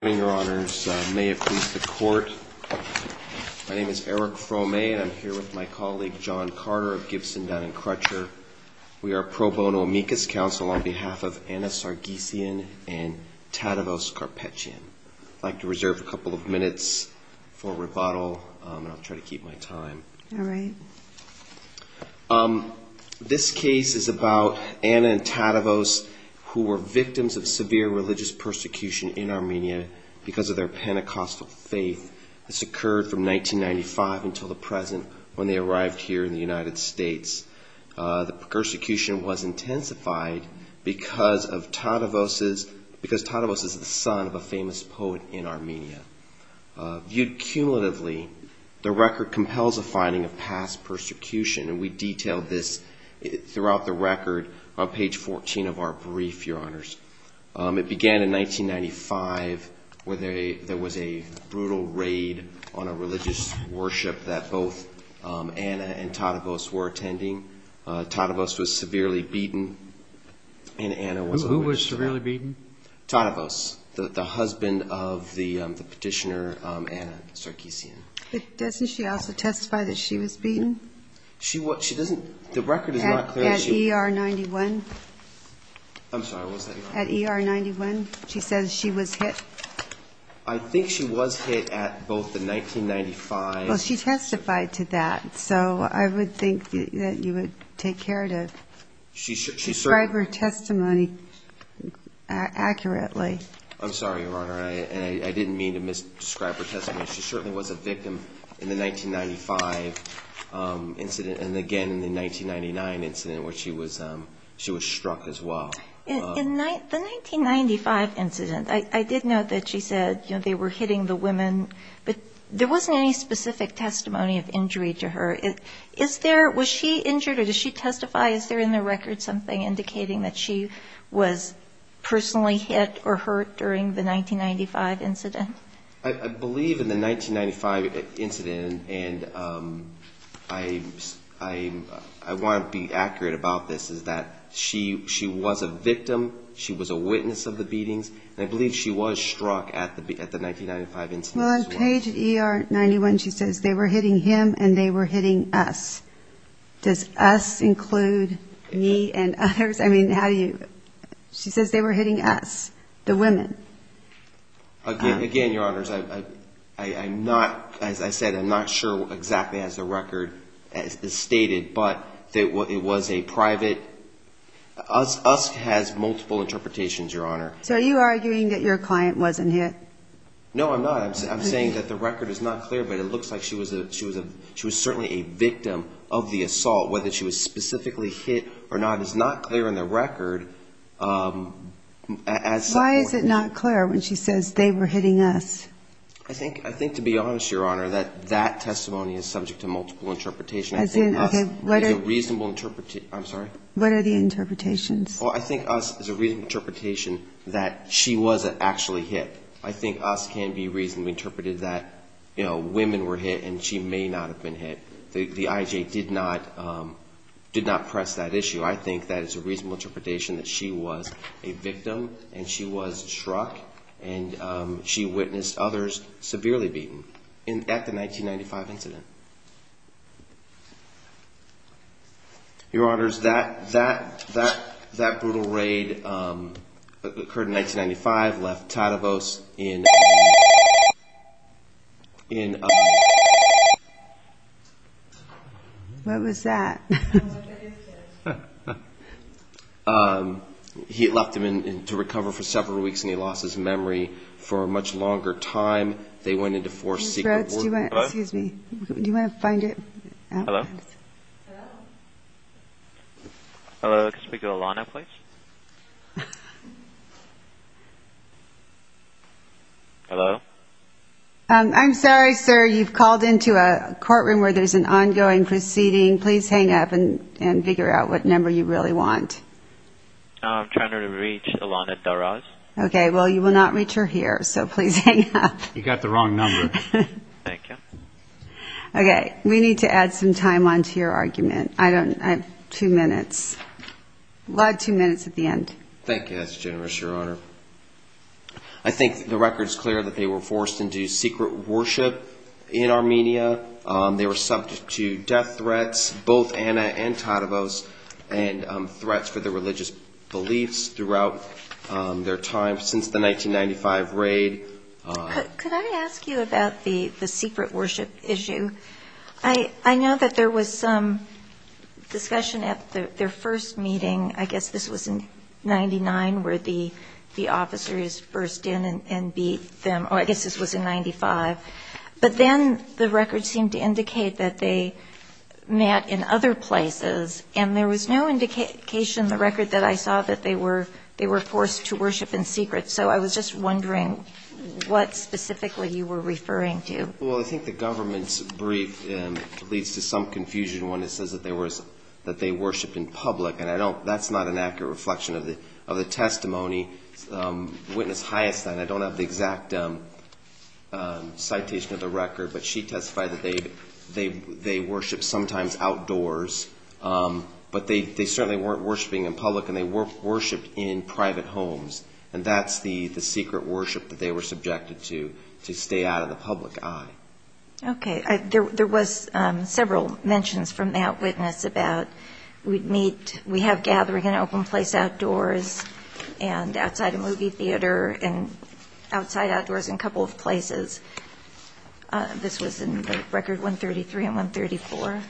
May it please the court. My name is Eric Fromay and I'm here with my colleague John Carter of Gibson, Dun & Crutcher. We are a pro bono amicus council on behalf of Anna Sargsyan and Tadevos Karpecyan. I'd like to reserve a couple of minutes for rebuttal and I'll try to keep my time. All right. This case is about Anna and Tadevos who were victims of severe religious persecution in Armenia because of their Pentecostal faith. This occurred from 1995 until the present when they arrived here in the United States. The persecution was intensified because Tadevos is the son of a famous poet in Armenia. Viewed cumulatively, the record compels a finding of past persecution and we detail this throughout the record on page 14 of our brief, your honors. It began in 1995 where there was a brutal raid on a religious worship that both Anna and Tadevos were attending. Tadevos was severely beaten and Anna was... Who was severely beaten? Tadevos, the husband of the petitioner Anna Sargsyan. Doesn't she also testify that she was beaten? She doesn't... The record is not clear that she... At ER 91? I'm sorry, what was that? At ER 91, she says she was hit? I think she was hit at both the 1995... Well, she testified to that. So I would think that you would take care to describe her testimony accurately. I'm sorry, your honor. I didn't mean to misdescribe her testimony. She certainly was a victim in the 1995 incident and again in the 1999 incident where she was struck as well. In the 1995 incident, I did note that she said they were hitting the women, but there wasn't any specific testimony of injury to her. Was she injured or did she testify? Is there in the record something indicating that she was personally hit or hurt during the 1995 incident? I believe in the 1995 incident, and I want to be accurate about this, is that she was a victim. She was a witness of the beatings, and I believe she was struck at the 1995 incident as well. Well, on page ER 91, she says they were hitting him and they were hitting us. Does us include me and others? I mean, how do you... She says they were hitting us, the women. Again, your honors, I'm not, as I said, I'm not sure exactly as the record stated, but it was a private... Us has multiple interpretations, your honor. So are you arguing that your client wasn't hit? No, I'm not. I'm saying that the record is not clear, but it looks like she was certainly a victim of the assault. Whether she was specifically hit or not is not clear in the record. Why is it not clear when she says they were hitting us? I think, to be honest, your honor, that that testimony is subject to multiple interpretations. I think us is a reasonable interpretation. I'm sorry? What are the interpretations? Well, I think us is a reasonable interpretation that she was actually hit. I think us can be reasonably interpreted that, you know, women were hit and she may not have been hit. The IJA did not press that issue. I think that is a reasonable interpretation that she was a victim and she was struck, and she witnessed others severely beaten at the 1995 incident. Your honors, that brutal raid occurred in 1995, left Tadevos in... What was that? He left him to recover for several weeks, and he lost his memory for a much longer time. They went into four secret war... Excuse me. Do you want to find it? Hello? Hello? Hello, can we speak to Alana, please? Hello? I'm sorry, sir. You've called into a courtroom where there's an ongoing proceeding. Please hang up and figure out what number you really want. I'm trying to reach Alana Daraz. Okay, well, you will not reach her here, so please hang up. You got the wrong number. Thank you. Okay, we need to add some time on to your argument. I have two minutes. We'll add two minutes at the end. Thank you. That's generous, your honor. I think the record's clear that they were forced into secret worship in Armenia. They were subject to death threats, both Anna and Tadavos, and threats for their religious beliefs throughout their time since the 1995 raid. Could I ask you about the secret worship issue? I know that there was some discussion at their first meeting, I guess this was in 99, where the officers burst in and beat them, or I guess this was in 95. But then the record seemed to indicate that they met in other places, and there was no indication in the record that I saw that they were forced to worship in secret. So I was just wondering what specifically you were referring to. Well, I think the government's brief leads to some confusion when it says that they worshiped in public, and that's not an accurate reflection of the testimony witness highest. I don't have the exact citation of the record, but she testified that they worshipped sometimes outdoors, but they certainly weren't worshipping in public, and they worshipped in private homes. And that's the secret worship that they were subjected to, to stay out of the public eye. Okay. There was several mentions from the eyewitness about, we have gathering in an open place outdoors and outside a movie theater and outside outdoors in a couple of places. This was in Record 133 and 134.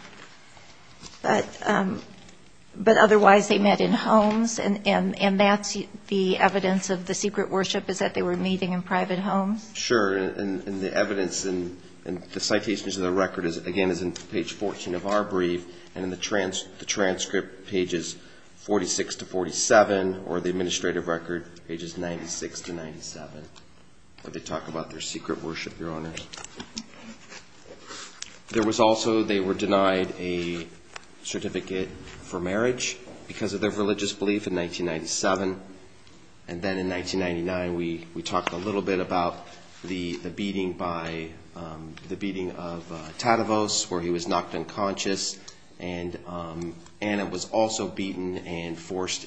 But otherwise they met in homes, and that's the evidence of the secret worship is that they were meeting in private homes? Sure, and the evidence in the citations of the record, again, is in page 14 of our brief, and in the transcript, pages 46 to 47, or the administrative record, pages 96 to 97, where they talk about their secret worship, Your Honor. There was also they were denied a certificate for marriage because of their religious belief in 1997, and then in 1999 we talked a little bit about the beating by, the beating of Tadavos where he was knocked unconscious, and Anna was also beaten and forced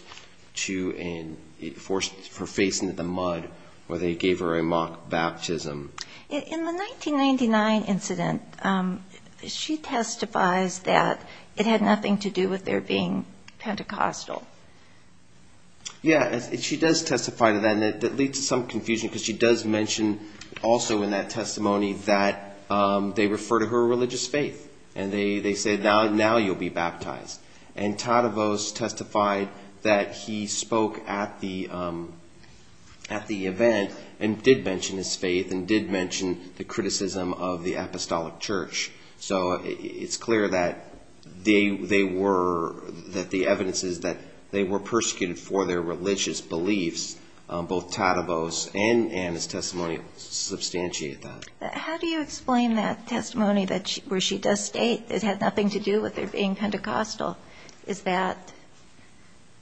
to, forced her face into the mud where they gave her a mock baptism. In the 1999 incident, she testifies that it had nothing to do with their being Pentecostal. Yeah, and she does testify to that, and that leads to some confusion because she does mention also in that testimony that they refer to her religious faith, and they say, now you'll be baptized. And Tadavos testified that he spoke at the event and did mention his faith and did mention the criticism of the Apostolic Church. So it's clear that they were, that the evidence is that they were persecuted for their religious beliefs, both Tadavos and Anna's testimony substantiate that. How do you explain that testimony where she does state it had nothing to do with their being Pentecostal? Is that?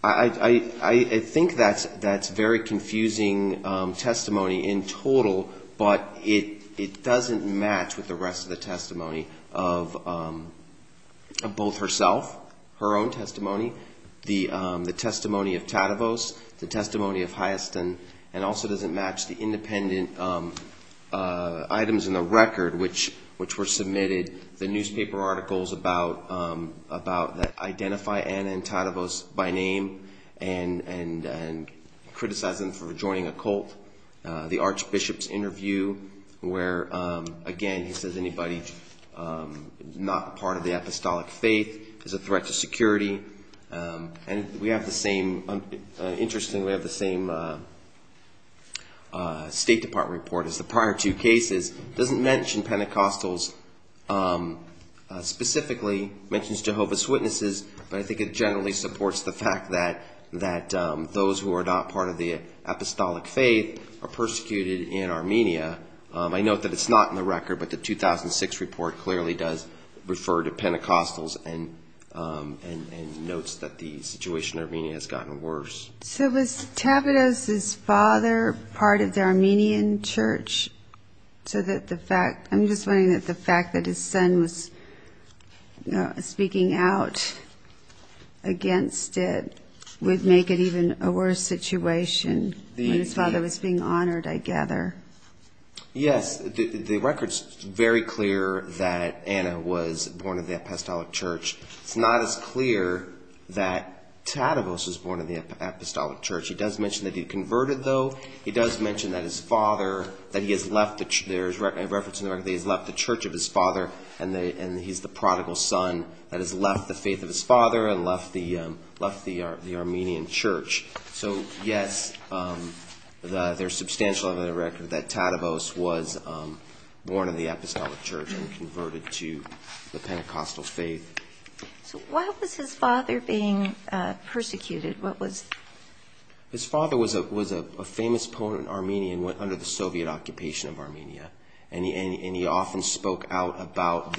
I think that's very confusing testimony in total, but it doesn't match with the rest of the testimony of both herself, her own testimony, the testimony of Tadavos, the testimony of Hiaston, and also doesn't match the independent items in the record which were submitted, the newspaper articles about, that identify Anna and Tadavos by name and criticize them for joining a cult, the archbishop's interview where, again, he says anybody not part of the Apostolic faith is a threat to security. And we have the same, interestingly, we have the same State Department report as the prior two cases. It doesn't mention Pentecostals specifically, mentions Jehovah's Witnesses, but I think it generally supports the fact that those who are not part of the Apostolic faith are persecuted in Armenia. I note that it's not in the record, but the 2006 report clearly does refer to Pentecostals and notes that the situation in Armenia has gotten worse. So was Tadavos' father part of the Armenian church? I'm just wondering that the fact that his son was speaking out against it would make it even a worse situation. When his father was being honored, I gather. Yes, the record's very clear that Anna was born in the Apostolic church. It's not as clear that Tadavos was born in the Apostolic church. He does mention that he converted, though. He does mention that he has left the church of his father, and he's the prodigal son that has left the faith of his father and left the Armenian church. So, yes, there's substantial evidence in the record that Tadavos was born in the Apostolic church and converted to the Pentecostal faith. So why was his father being persecuted? His father was a famous ponent in Armenia and went under the Soviet occupation of Armenia. And he often spoke out about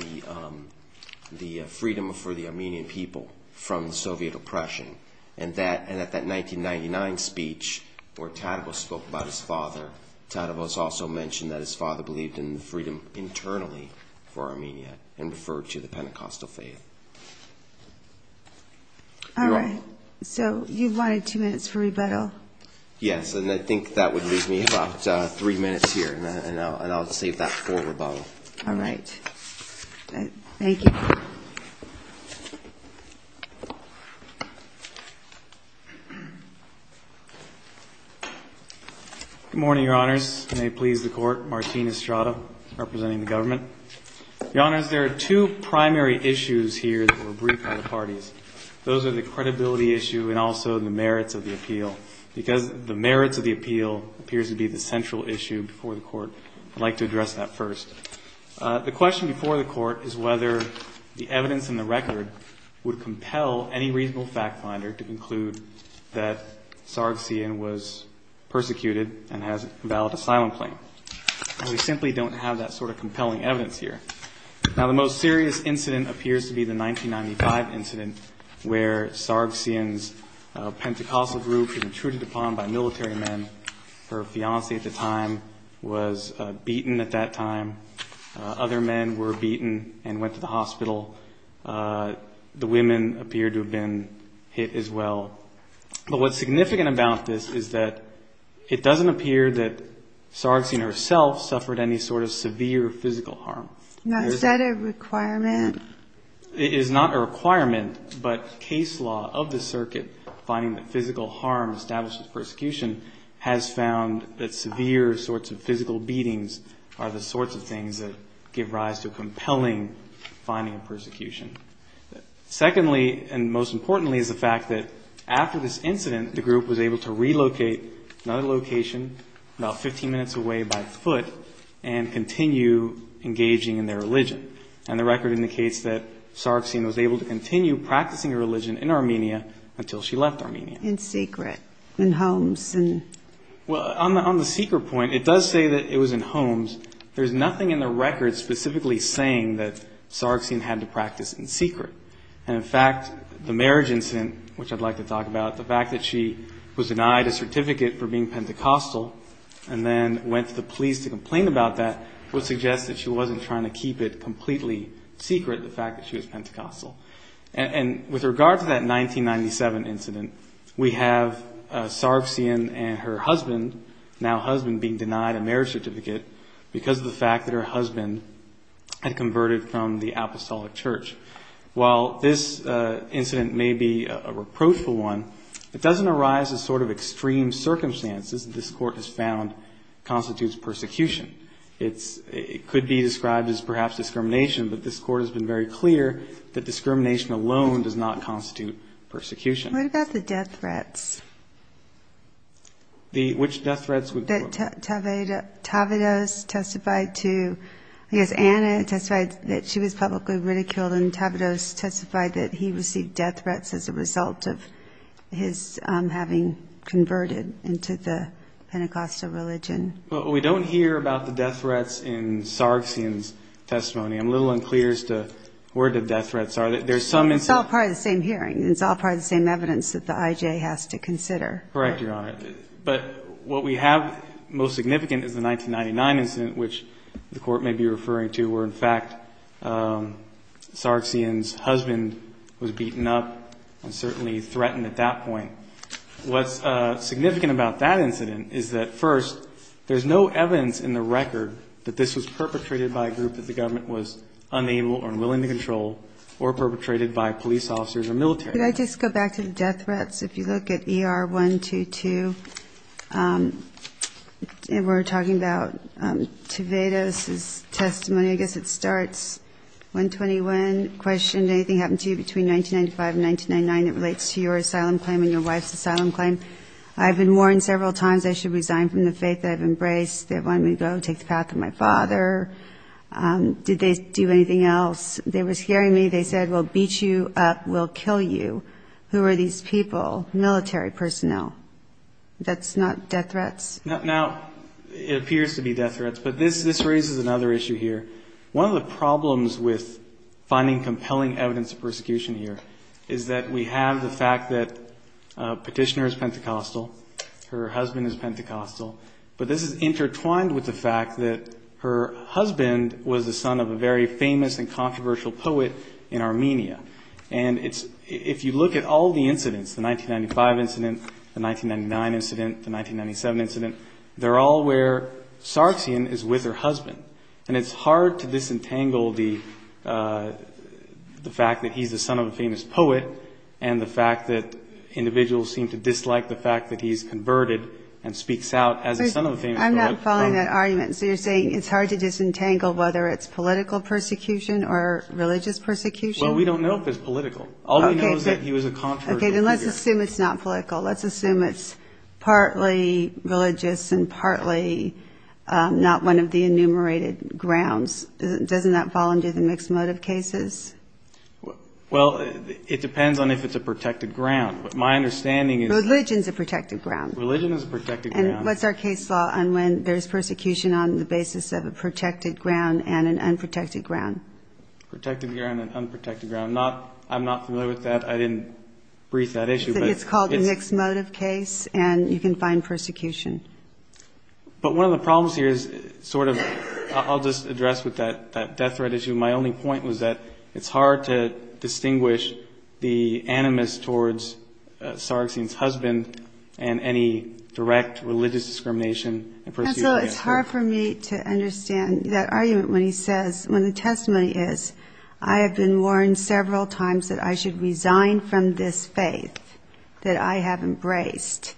the freedom for the Armenian people from the Soviet oppression. And at that 1999 speech where Tadavos spoke about his father, Tadavos also mentioned that his father believed in the freedom internally for Armenia and referred to the Pentecostal faith. All right, so you wanted two minutes for rebuttal. Yes, and I think that would leave me about three minutes here, and I'll save that for rebuttal. All right. Thank you. Good morning, Your Honors. May it please the Court. Martin Estrada, representing the government. Your Honors, there are two primary issues here that were briefed by the parties. Those are the credibility issue and also the merits of the appeal. Because the merits of the appeal appears to be the central issue before the Court, I'd like to address that first. The question before the Court is whether the evidence in the record would compel any reasonable fact finder to conclude that Sargsyan was persecuted and has a valid asylum claim. And we simply don't have that sort of compelling evidence here. Now, the most serious incident appears to be the 1995 incident where Sargsyan's Pentecostal group was intruded upon by military men. Her fiancée at the time was beaten at that time. Other men were beaten and went to the hospital. The women appeared to have been hit as well. But what's significant about this is that it doesn't appear that Sargsyan herself suffered any sort of severe physical harm. Is that a requirement? It is not a requirement, but case law of the circuit finding that physical harm established with persecution has found that severe sorts of physical beatings are the sorts of things that give rise to compelling finding of persecution. Secondly, and most importantly, is the fact that after this incident, the group was able to relocate to another location about 15 minutes away by foot and continue engaging in their own activities. And the record indicates that Sargsyan was able to continue practicing her religion in Armenia until she left Armenia. In secret, in homes? Well, on the secret point, it does say that it was in homes. There's nothing in the record specifically saying that Sargsyan had to practice in secret. And, in fact, the marriage incident, which I'd like to talk about, the fact that she was denied a certificate for being Pentecostal and then went to the police to complain about that would suggest that she wasn't trying to keep it completely secret, the fact that she was Pentecostal. And with regard to that 1997 incident, we have Sargsyan and her husband, now husband, being denied a marriage certificate because of the fact that her husband had converted from the Apostolic Church. While this incident may be a reproachful one, it doesn't arise as sort of extreme circumstances that this court has found constitutes persecution. It could be described as perhaps discrimination, but this court has been very clear that discrimination alone does not constitute persecution. What about the death threats? Which death threats? That Tavedos testified to, I guess Anna testified that she was publicly ridiculed and Tavedos testified that he received death threats as a result of his having converted into the Pentecostal religion. Well, we don't hear about the death threats in Sargsyan's testimony. I'm a little unclear as to where the death threats are. There's some... It's all part of the same hearing. It's all part of the same evidence that the IJ has to consider. Correct, Your Honor. But what we have most significant is the 1999 incident, which the court may be referring to, where, in fact, Sargsyan's husband was beaten up and certainly threatened at that point. What's significant about that incident is that, first, there's no evidence in the record that this was perpetrated by a group that the government was unable or unwilling to control or perpetrated by police officers or military. Could I just go back to the death threats? If you look at ER 122, and we're talking about Tavedos' testimony, I guess it starts 121. I have one question. Anything happen to you between 1995 and 1999 that relates to your asylum claim and your wife's asylum claim? I've been warned several times I should resign from the faith I've embraced. They wanted me to go take the path of my father. Did they do anything else? They were scaring me. They said, we'll beat you up. We'll kill you. Who are these people? Military personnel. That's not death threats? Now, it appears to be death threats, but this raises another issue here. One of the problems with finding compelling evidence of persecution here is that we have the fact that a petitioner is Pentecostal. Her husband is Pentecostal. But this is intertwined with the fact that her husband was the son of a very famous and controversial poet in Armenia. And if you look at all the incidents, the 1995 incident, the 1999 incident, the 1997 incident, they're all where Sargsyan is with her husband. And it's hard to disentangle the fact that he's the son of a famous poet and the fact that individuals seem to dislike the fact that he's converted and speaks out as a son of a famous poet. I'm not following that argument. So you're saying it's hard to disentangle whether it's political persecution or religious persecution? Well, we don't know if it's political. All we know is that he was a controversial figure. Okay, then let's assume it's not political. Let's assume it's partly religious and partly not one of the enumerated. Okay, then let's assume it's not political and partly not one of the enumerated grounds. Doesn't that fall under the mixed motive cases? Well, it depends on if it's a protected ground. My understanding is that... Religion is a protected ground. Religion is a protected ground. And what's our case law on when there's persecution on the basis of a protected ground and an unprotected ground? Protected ground and unprotected ground. I'm not familiar with that. I didn't brief that issue. It's called a mixed motive case and you can find persecution. But one of the problems here is sort of... I'll just address with that death threat issue. My only point was that it's hard to distinguish the animus towards Sarraxene's husband and any direct religious discrimination. And so it's hard for me to understand that argument when he says... When the testimony is, I have been warned several times that I should resign from this faith that I have embraced.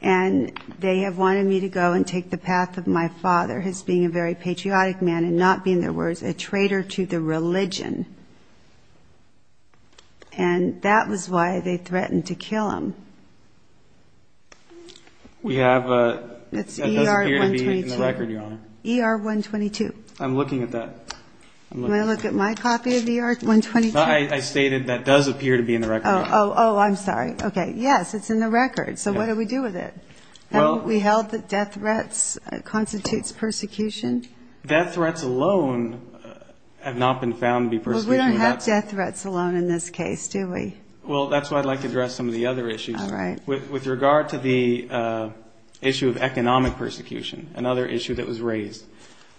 And they have wanted me to go and take the path of my father as being a very patriotic man and not being, in other words, a traitor to the religion. And that was why they threatened to kill him. We have a... That's ER-122. That does appear to be in the record, Your Honor. ER-122. I'm looking at that. You want to look at my copy of ER-122? I stated that does appear to be in the record. Oh, I'm sorry. Okay. Yes, it's in the record. So what do we do with it? Haven't we held that death threats constitutes persecution? Death threats alone have not been found to be persecution. But we don't have death threats alone in this case, do we? Well, that's why I'd like to address some of the other issues. All right. With regard to the issue of economic persecution, another issue that was raised,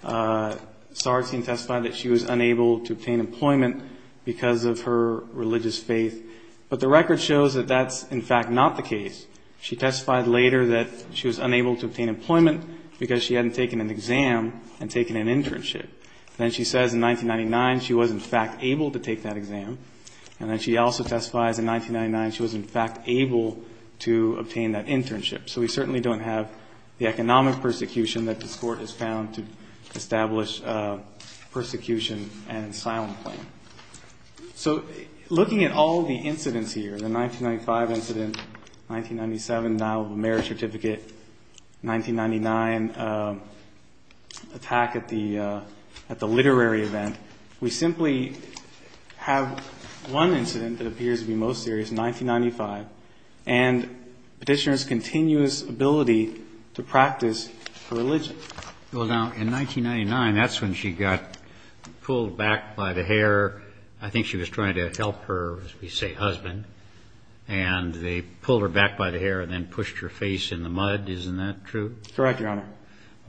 Sargsyn testified that she was unable to obtain employment because of her religious faith. But the record shows that that's, in fact, not the case. She testified later that she was unable to obtain employment because she hadn't taken an exam and taken an internship. Then she says in 1999 she was, in fact, able to take that exam. And then she also testifies in 1999 she was, in fact, able to obtain that internship. So we certainly don't have the economic persecution that this Court has found to establish persecution and asylum claim. So looking at all the incidents here, the 1995 incident, 1997, now marriage certificate, 1999 attack at the literary event, we simply have one incident that has the continuous ability to practice a religion. Now, in 1999, that's when she got pulled back by the hare. I think she was trying to help her, as we say, husband. And they pulled her back by the hare and then pushed her face in the mud. Isn't that true? Correct, Your Honor.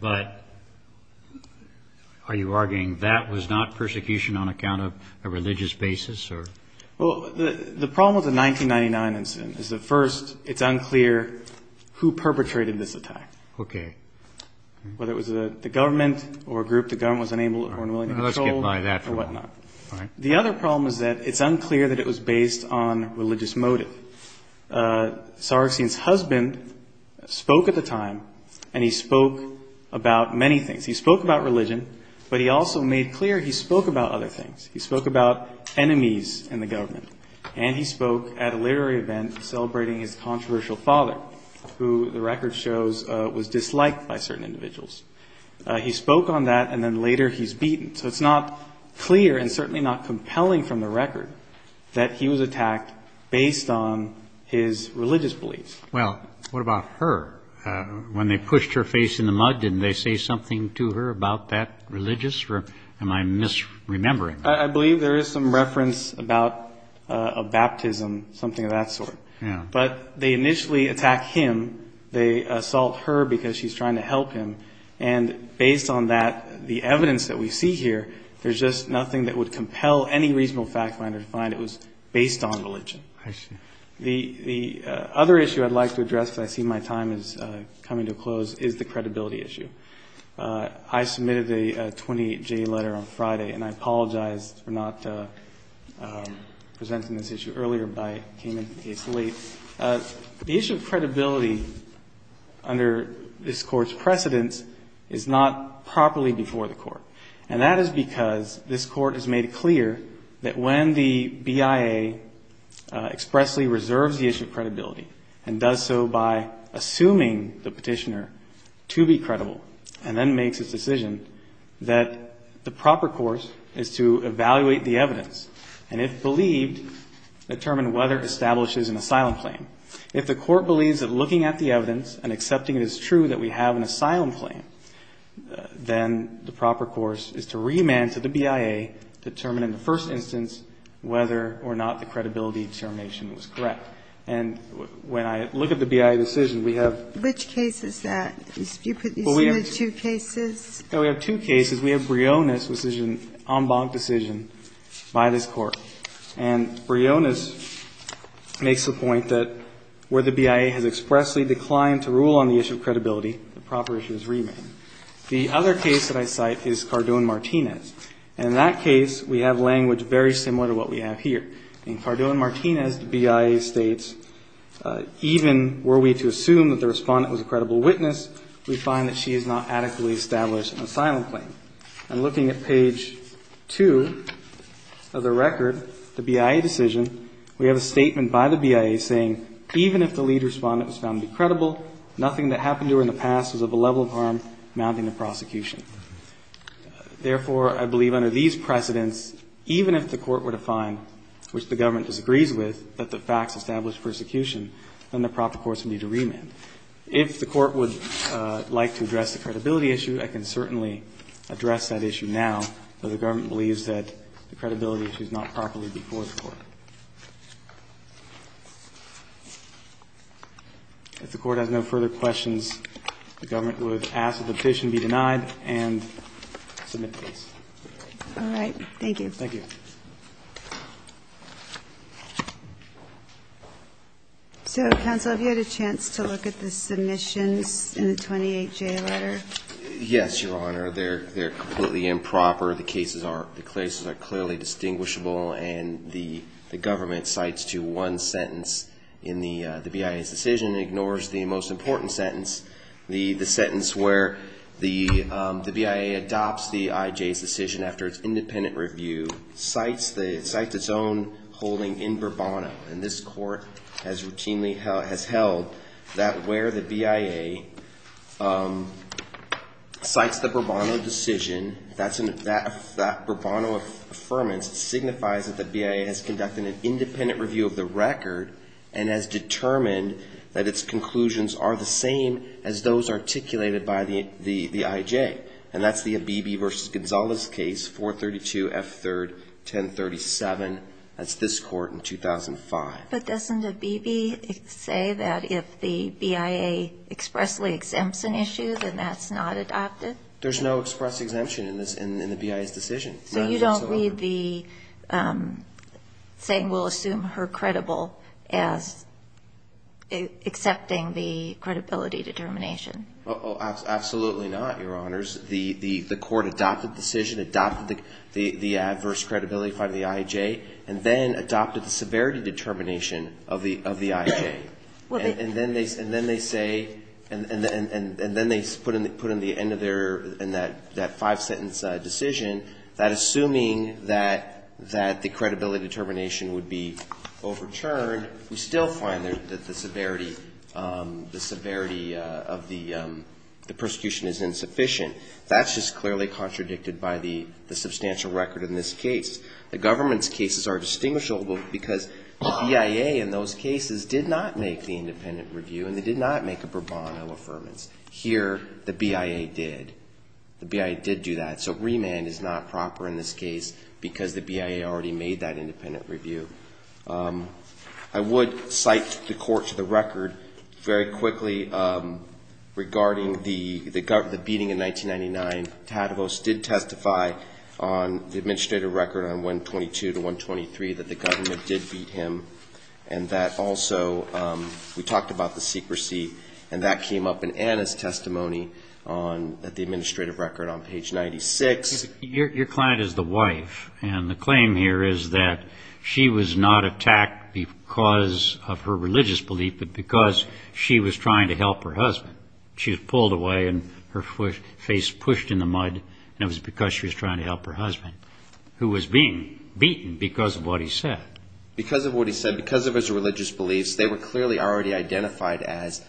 But are you arguing that was not persecution on account of a religious basis? Well, the problem with the 1999 incident is that, first, it's unclear who perpetrated this attack. Okay. Whether it was the government or a group the government was unable or unwilling to control. Let's get by that for now. Or whatnot. All right. The other problem is that it's unclear that it was based on religious motive. Sargsyan's husband spoke at the time, and he spoke about many things. He spoke about religion, but he also made clear he spoke about other things. He spoke about enemies in the government, and he spoke at a literary event celebrating his controversial father, who the record shows was disliked by certain individuals. He spoke on that, and then later he's beaten. So it's not clear and certainly not compelling from the record that he was attacked based on his religious beliefs. Well, what about her? When they pushed her face in the mud, didn't they say something to her about that religious or am I misremembering? I believe there is some reference about a baptism, something of that sort. Yeah. But they initially attack him. They assault her because she's trying to help him. And based on that, the evidence that we see here, there's just nothing that would compel any reasonable fact finder to find it was based on religion. I see. The other issue I'd like to address because I see my time is coming to a close is the credibility issue. I submitted a 28-J letter on Friday, and I apologize for not presenting this issue earlier. I came in case late. The issue of credibility under this Court's precedence is not properly before the Court. And that is because this Court has made it clear that when the BIA expressly reserves the issue of credibility and does so by assuming the petitioner to be credible and then makes its decision, that the proper course is to evaluate the evidence and, if believed, determine whether it establishes an asylum claim. If the Court believes that looking at the evidence and accepting it is true that we have an asylum claim, then the proper course is to remand to the BIA, determine in the first instance whether or not the credibility determination was correct. And when I look at the BIA decision, we have ---- Which case is that? You put these two cases? We have two cases. We have Briones' decision, en banc decision, by this Court. And Briones makes the point that where the BIA has expressly declined to rule on the issue of credibility, the proper issue is remand. The other case that I cite is Cardone-Martinez. And in that case, we have language very similar to what we have here. In Cardone-Martinez, the BIA states, even were we to assume that the respondent was a credible witness, we find that she has not adequately established an asylum claim. And looking at page 2 of the record, the BIA decision, we have a statement by the BIA saying, even if the lead respondent was found to be credible, nothing that happened to her in the past was of a level of harm amounting to prosecution. Therefore, I believe under these precedents, even if the Court were to find, which the government disagrees with, that the facts establish persecution, then the proper course would be to remand. If the Court would like to address the credibility issue, I can certainly address that issue now, but the government believes that the credibility issue is not properly before the Court. If the Court has no further questions, the government would ask that the petition be denied and submit the case. All right. Thank you. Thank you. So, counsel, have you had a chance to look at the submissions in the 28J letter? Yes, Your Honor. They're completely improper. The cases are clearly distinguishable, and the government cites to one sentence in the BIA's decision and ignores the most important sentence, the sentence where the BIA adopts the IJ's decision after its independent review, cites its own holding in Bourbono. And this Court has routinely held that where the BIA cites the Bourbono decision, that Bourbono affirmance signifies that the BIA has conducted an independent review of the record and has determined that its conclusions are the same as those articulated by the IJ. And that's the Abebe v. Gonzalez case, 432 F. 3rd, 1037. That's this Court in 2005. But doesn't Abebe say that if the BIA expressly exempts an issue, then that's not adopted? There's no express exemption in the BIA's decision. So you don't read the saying we'll assume her credible as accepting the credibility determination? Absolutely not, Your Honors. The Court adopted the decision, adopted the adverse credibility by the IJ, and then adopted the severity determination of the IJ. And then they say, and then they put in the end of their, in that five-sentence decision, that assuming that the credibility determination would be overturned, we still find that the severity of the prosecution is insufficient. That's just clearly contradicted by the substantial record in this case. The government's cases are distinguishable because the BIA in those cases did not make the independent review and they did not make a bravado affirmance. Here the BIA did. The BIA did do that. So remand is not proper in this case because the BIA already made that independent review. I would cite the Court to the record very quickly regarding the beating in 1999. Tadavos did testify on the administrative record on 122 to 123 that the government did beat him. And that also, we talked about the secrecy, and that came up in Anna's testimony on the administrative record on page 96. Your client is the wife, and the claim here is that she was not attacked because of her religious belief, but because she was trying to help her husband. She was pulled away and her face pushed in the mud, and it was because she was trying to help her husband, who was being beaten because of what he said. Because of what he said, because of his religious beliefs, they were clearly already identified as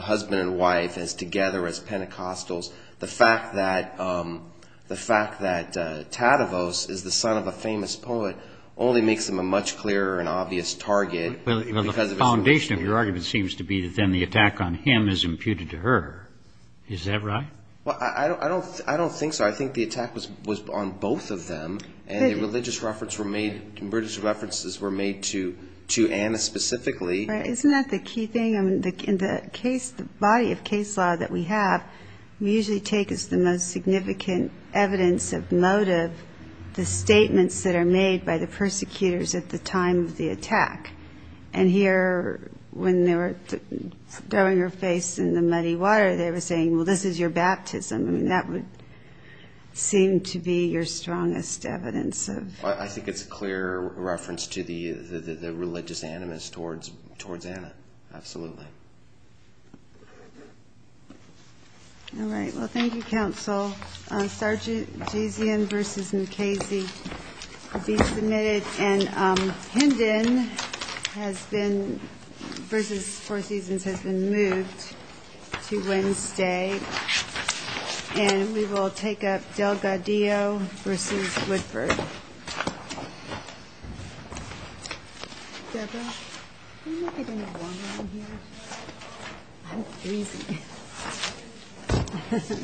husband and wife, as together, as Pentecostals. The fact that Tadavos is the son of a famous poet only makes him a much clearer and obvious target. Well, the foundation of your argument seems to be that then the attack on him is imputed to her. Is that right? Well, I don't think so. I think the attack was on both of them, and the religious references were made to Anna specifically. Isn't that the key thing? I mean, in the body of case law that we have, we usually take as the most significant evidence of motive the statements that are made by the persecutors at the time of the attack. And here, when they were throwing her face in the muddy water, they were saying, well, this is your baptism. I mean, that would seem to be your strongest evidence. I think it's a clear reference to the religious animus towards Anna. Absolutely. All right. Well, thank you, counsel. Sargisian v. Mukasey will be submitted. And Hendon v. Four Seasons has been moved to Wednesday. And we will take up Delgadillo v. Woodford. Debra, can you get any water on here? I'm freezing.